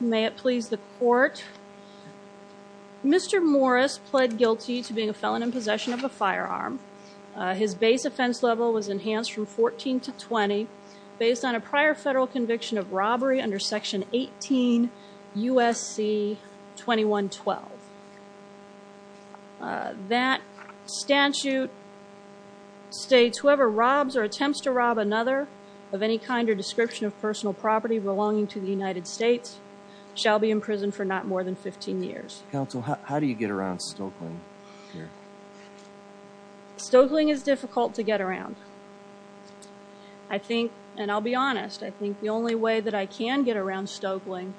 May it please the court. Mr. Morris pled guilty to being a felon in possession of a firearm. His base offense level was enhanced from 14 to 20 based on a prior federal conviction of robbery under section 18 USC 2112. That statute states whoever robs or attempts to rob another of any kind or description of personal property belonging to the United States shall be in prison for not more than 15 years. Counsel how do you get around Stokeling? Stokeling is difficult to get around. I think and I'll be honest I think the only way that I can get around Stokeling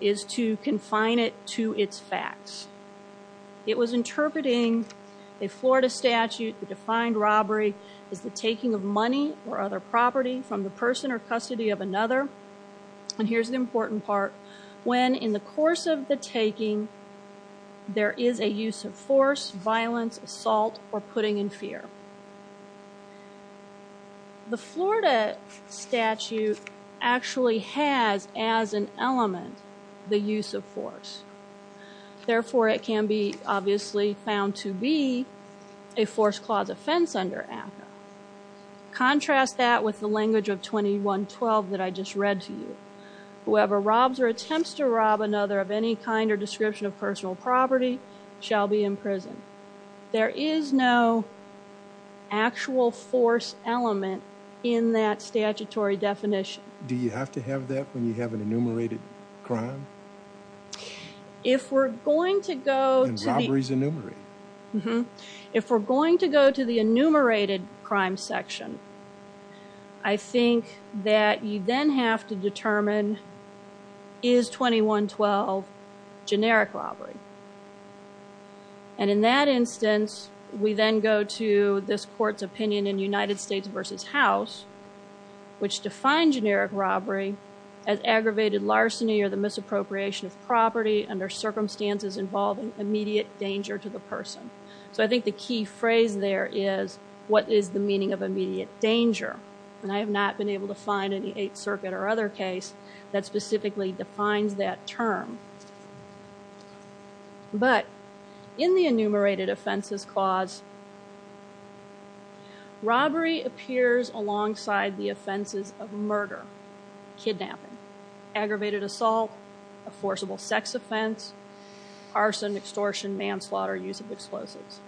is to confine it to its facts. It was interpreting a Florida statute the defined robbery is the taking of money or other property from the person or custody of another and here's the important part when in the course of the taking there is a use of force violence assault or putting in fear. The Florida statute actually has as an element the use of force therefore it can be obviously found to be a force clause offense under ACCA. Contrast that with the language of 2112 that I just read to you. Whoever robs or attempts to rob another of any kind or description of personal property shall be in prison. There is no actual force element in that statutory definition. Do you have to have that when you have an enumerated crime? If we're going to go to the enumerated crime section I think that you then have to determine is 2112 generic robbery? And in that instance we then go to this court's opinion in United States versus House which defined generic robbery as aggravated larceny or the misappropriation of property under circumstances involving immediate danger to the person. So I think the key phrase there is what is the meaning of immediate danger and I have not been able to find any Eighth Circuit or other case that specifically defines that term. But in the enumerated offenses clause robbery appears alongside the offenses of murder, kidnapping, aggravated assault, a manslaughter, use of explosives.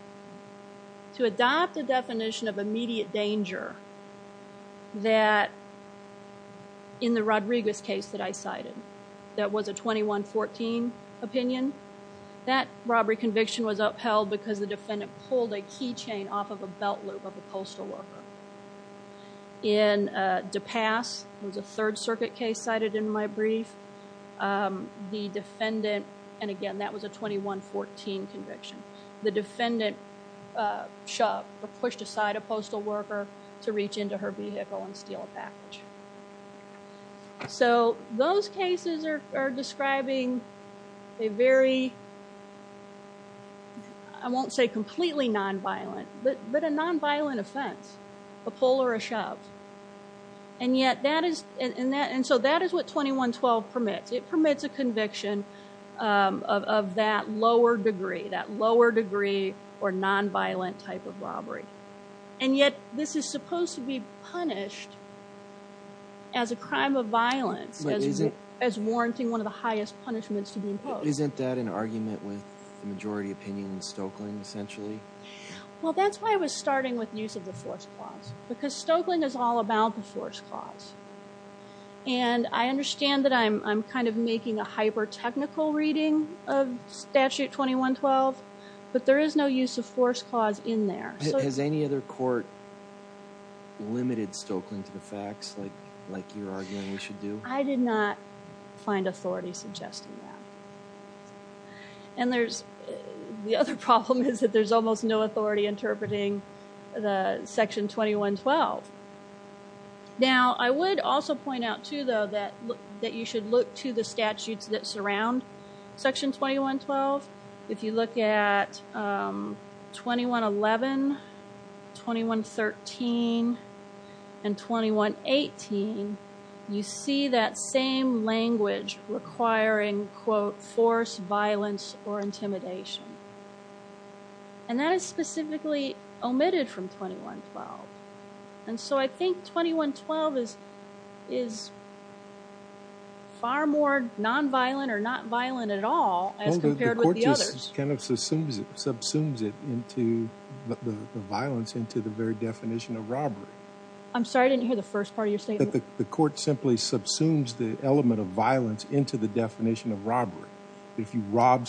To adopt the definition of immediate danger that in the Rodriguez case that I cited that was a 2114 opinion, that robbery conviction was upheld because the defendant pulled a key chain off of a belt loop of a postal worker. In DePass, it was a Third Circuit case cited in my conviction. The defendant shoved or pushed aside a postal worker to reach into her vehicle and steal a package. So those cases are describing a very, I won't say completely nonviolent, but a nonviolent offense. A pull or a shove. And yet that is and that and so that is what 2112 permits. It permits a conviction of that lower degree, that lower degree or nonviolent type of robbery. And yet this is supposed to be punished as a crime of violence, as warranting one of the highest punishments to be imposed. Isn't that an argument with the majority opinion in Stokelyn essentially? Well that's why I was starting with use of the force clause. Because Stokelyn is all about the force clause. And I understand that I'm kind of reading of Statute 2112, but there is no use of force clause in there. Has any other court limited Stokelyn to the facts like you're arguing we should do? I did not find authority suggesting that. And there's the other problem is that there's almost no authority interpreting the Section 2112. Now I would also point out too though that that you should look to the statutes that surround Section 2112. If you look at 2111, 2113, and 2118, you see that same language requiring quote force violence or intimidation. And that is specifically omitted from 2112. And so I think 2112 is far more nonviolent or not violent at all as compared with the others. The court just kind of subsumes it into the violence into the very definition of robbery. I'm sorry I didn't hear the first part of your statement. The court simply subsumes the element of violence into the definition of robbery. If you Well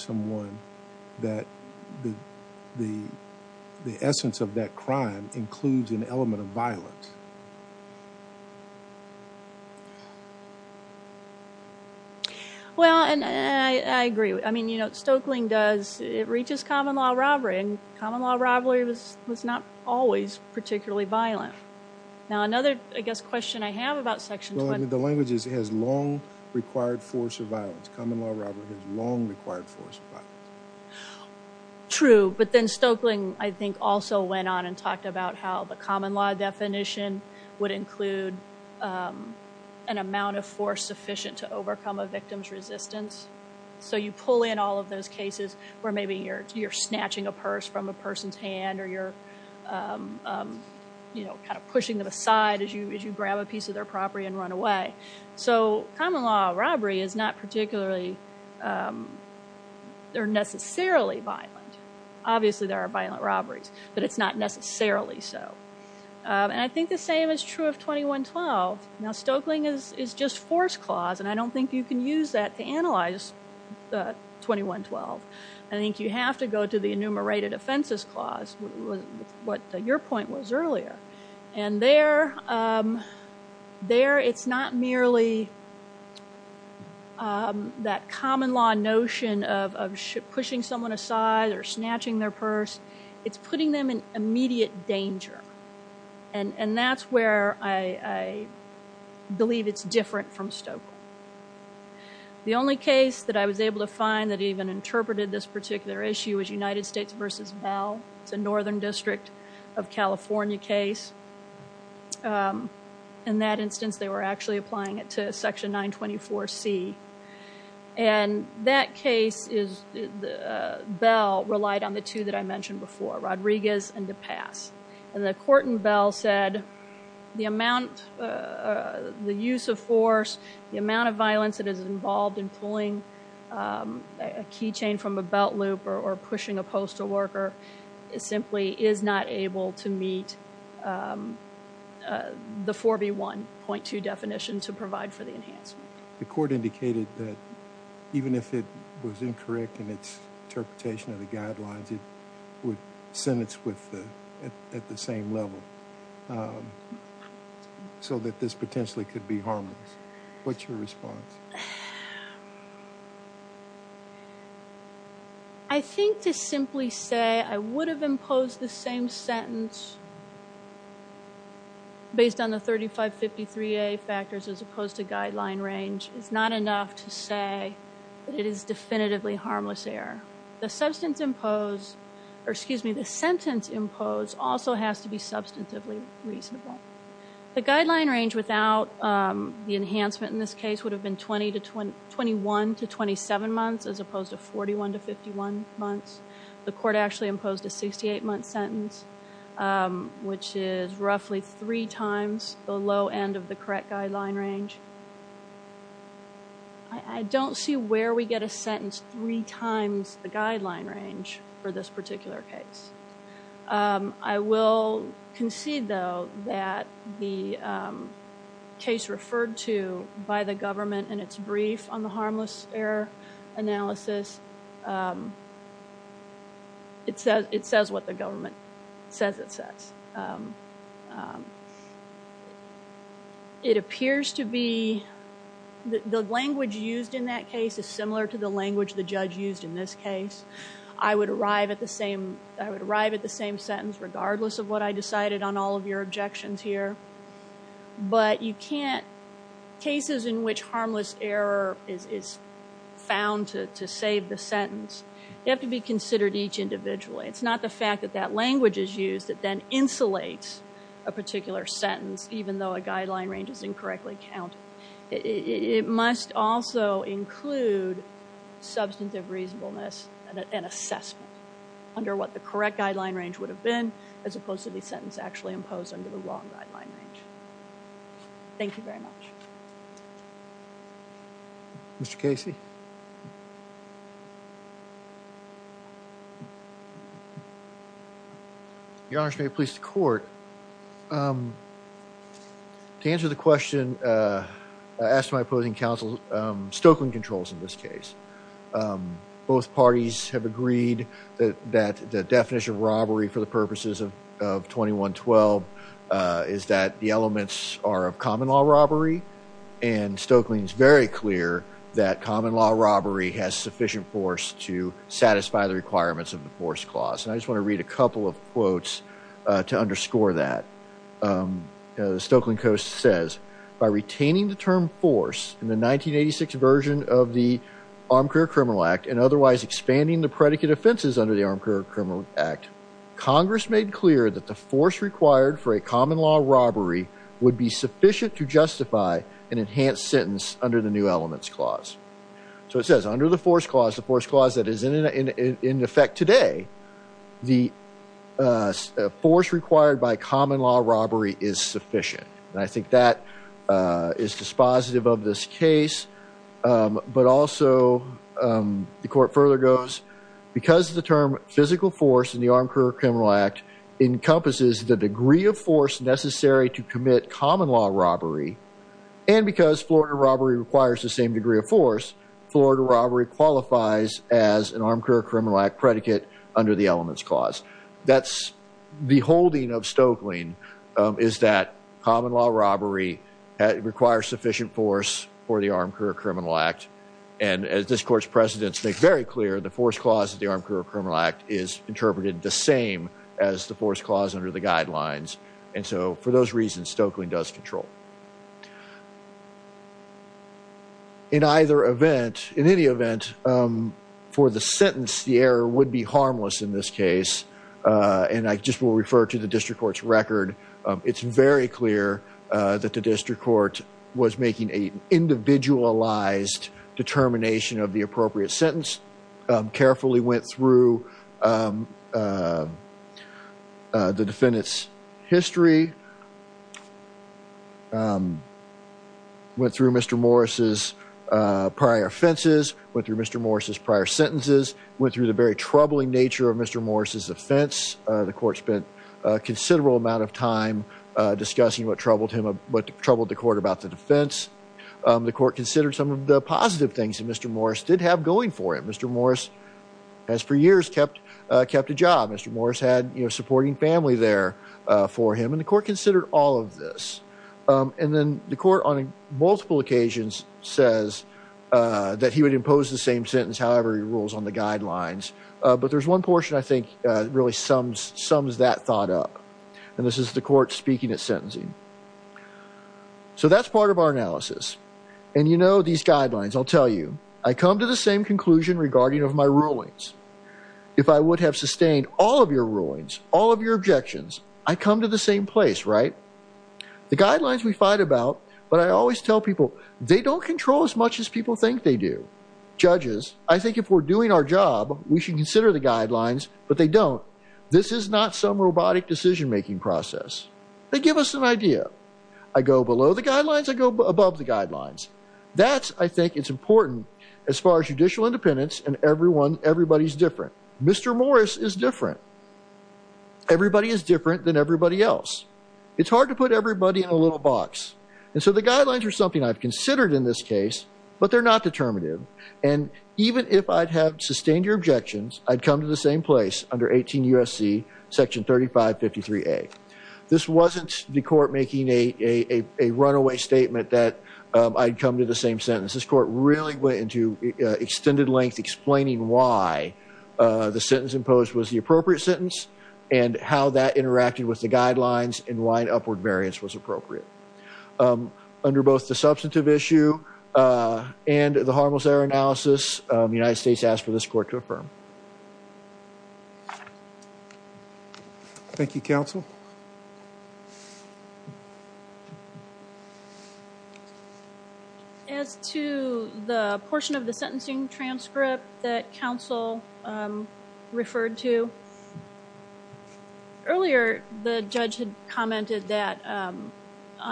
and I agree. I mean you know Stokelyn does it reaches common law robbery and common law robbery was not always particularly violent. Now another I guess question I have about Section 2112. The language is has long required force of violence. Common law robbery has long required force of violence. True, but then Stokelyn I talked about how the common law definition would include an amount of force sufficient to overcome a victim's resistance. So you pull in all of those cases where maybe you're you're snatching a purse from a person's hand or you're you know kind of pushing them aside as you as you grab a piece of their property and run away. So common law robbery is not particularly they're necessarily violent. Obviously there are violent robberies, but it's not necessarily so. And I think the same is true of 2112. Now Stokelyn is is just force clause and I don't think you can use that to analyze the 2112. I think you have to go to the enumerated offenses clause. What your point was earlier and there there it's not merely that common law notion of pushing someone aside or pushing them aside. It's the immediate danger and and that's where I believe it's different from Stokelyn. The only case that I was able to find that even interpreted this particular issue is United States versus Bell. It's a northern district of California case. In that instance they were actually applying it to Section 924 C and that case is the Bell relied on the two that I mentioned before, Rodriguez and DePay. And the court in Bell said the amount the use of force, the amount of violence that is involved in pulling a keychain from a belt loop or pushing a postal worker is simply is not able to meet the 4B1.2 definition to provide for the enhancement. The court indicated that even if it was incorrect in its interpretation of the at the same level so that this potentially could be harmless. What's your response? I think to simply say I would have imposed the same sentence based on the 3553A factors as opposed to guideline range is not enough to say it is definitively harmless error. The substance imposed or excuse me the sentence imposed also has to be substantively reasonable. The guideline range without the enhancement in this case would have been 21 to 27 months as opposed to 41 to 51 months. The court actually imposed a 68 month sentence which is roughly three times the low end of the correct guideline range. I don't see where we get a sentence three times the guideline range for this particular case. I will concede though that the case referred to by the government in its brief on the harmless error analysis, it says what the government says it says. It appears to be the language used in that case is similar to the language the judge used in this case. I would arrive at the same sentence regardless of what I decided on all of your objections here but you can't cases in which harmless error is found to save the sentence, they have to be considered each individually. It's not the fact that that language is used that then insulates a particular sentence even though a guideline range is incorrectly counted. It must also include substantive reasonableness and assessment under what the correct guideline range would have been as opposed to the sentence actually imposed under the long guideline range. Thank you very much. Mr. Casey. Your Honor, may it please the court. To answer the question I asked my opposing counsel Stokeland controls in this case. Both parties have agreed that the definition of robbery for the purposes of 2112 is that the elements are of common-law robbery and Stokeland is very clear that common-law robbery has sufficient force to satisfy the requirements of the force clause and I just want to read a couple of quotes to underscore that. The Stokeland Coast says by retaining the term force in the 1986 version of the Armed Career Criminal Act and otherwise expanding the predicate offenses under the Armed Career Criminal Act, Congress made clear that the force required for a common-law robbery would be sufficient to justify an enhanced sentence under the new elements clause. So it says under the force clause the force clause that is in effect today, the force required by common-law robbery is sufficient and I think that is dispositive of this case but also the court further goes because the term physical force in the Armed Career Criminal Act encompasses the degree of force necessary to commit common-law robbery and because Florida robbery requires the same degree of force, Florida robbery qualifies as an Armed Career Criminal Act predicate under the elements clause. That's the holding of robbery that requires sufficient force for the Armed Career Criminal Act and as this court's precedents make very clear the force clause of the Armed Career Criminal Act is interpreted the same as the force clause under the guidelines and so for those reasons Stokeland does control. In either event, in any event for the sentence the error would be harmless in this case and I just will refer to the district court's record. It's very clear that the district court was making a individualized determination of the appropriate sentence, carefully went through the defendant's history, went through Mr. Morris's prior offenses, went through Mr. Morris's prior sentences, went through the very troubling nature of Mr. Morris's offense. The court spent a considerable amount of time discussing what troubled him, what troubled the court about the defense. The court considered some of the positive things that Mr. Morris did have going for him. Mr. Morris has for years kept, kept a job. Mr. Morris had you know supporting family there for him and the court considered all of this and then the court on multiple occasions says that he would impose the same sentence however he rules on the guidelines but there's one portion I think really sums, sums that thought up and this is the court speaking at sentencing. So that's part of our analysis and you know these guidelines I'll tell you. I come to the same conclusion regarding of my rulings. If I would have sustained all of your rulings, all of your objections, I come to the same place right? The guidelines we fight about but I always tell people they don't control as much as people think they do. Judges, I think if we're doing our job we should consider the guidelines but they don't. This is not some robotic decision-making process. They give us an idea. I go below the guidelines, I go above the guidelines. That's I think it's important as far as judicial independence and everyone everybody's different. Mr. Morris is different. Everybody is different than everybody else. It's hard to put everybody in a little box and so the it's not determinative and even if I'd have sustained your objections, I'd come to the same place under 18 U.S.C. section 3553A. This wasn't the court making a runaway statement that I'd come to the same sentence. This court really went into extended length explaining why the sentence imposed was the appropriate sentence and how that interacted with the guidelines and why the substantive issue and the harmless error analysis, the United States asked for this court to affirm. Thank you, counsel. As to the portion of the sentencing transcript that counsel referred to, earlier the judge had commented that on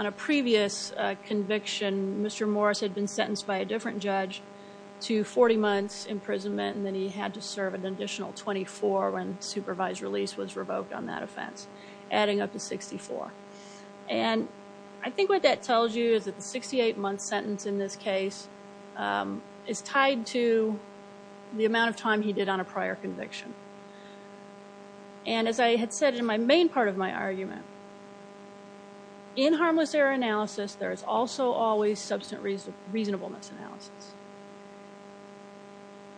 a previous conviction, Mr. Morris had been sentenced by a different judge to 40 months imprisonment and then he had to serve an additional 24 when supervised release was revoked on that offense, adding up to 64 and I think what that tells you is that the 68 month sentence in this case is tied to the amount of time he did on a prior conviction and as I had said in my main part of my argument, in harmless error analysis there is also always substantive reasonableness analysis.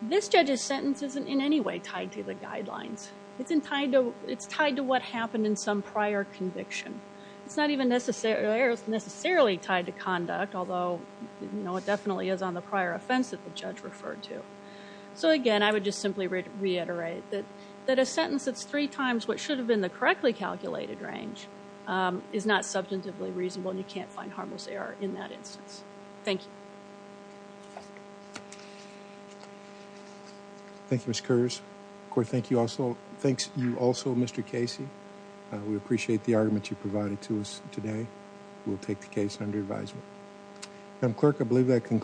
This judge's sentence isn't in any way tied to the guidelines. It's tied to what happened in some prior conviction. It's not even necessarily tied to conduct, although it definitely is on the prior offense that the judge referred to. So again, I would just simply reiterate that that a sentence that's three times what should have been the correctly calculated range is not substantively reasonable and you can't find harmless error in that instance. Thank you. Thank you, Ms. Kurtis. The court thanks you also, Mr. Casey. We appreciate the argument you provided to us today. We'll take the case under advisement. And clerk, I believe that concludes.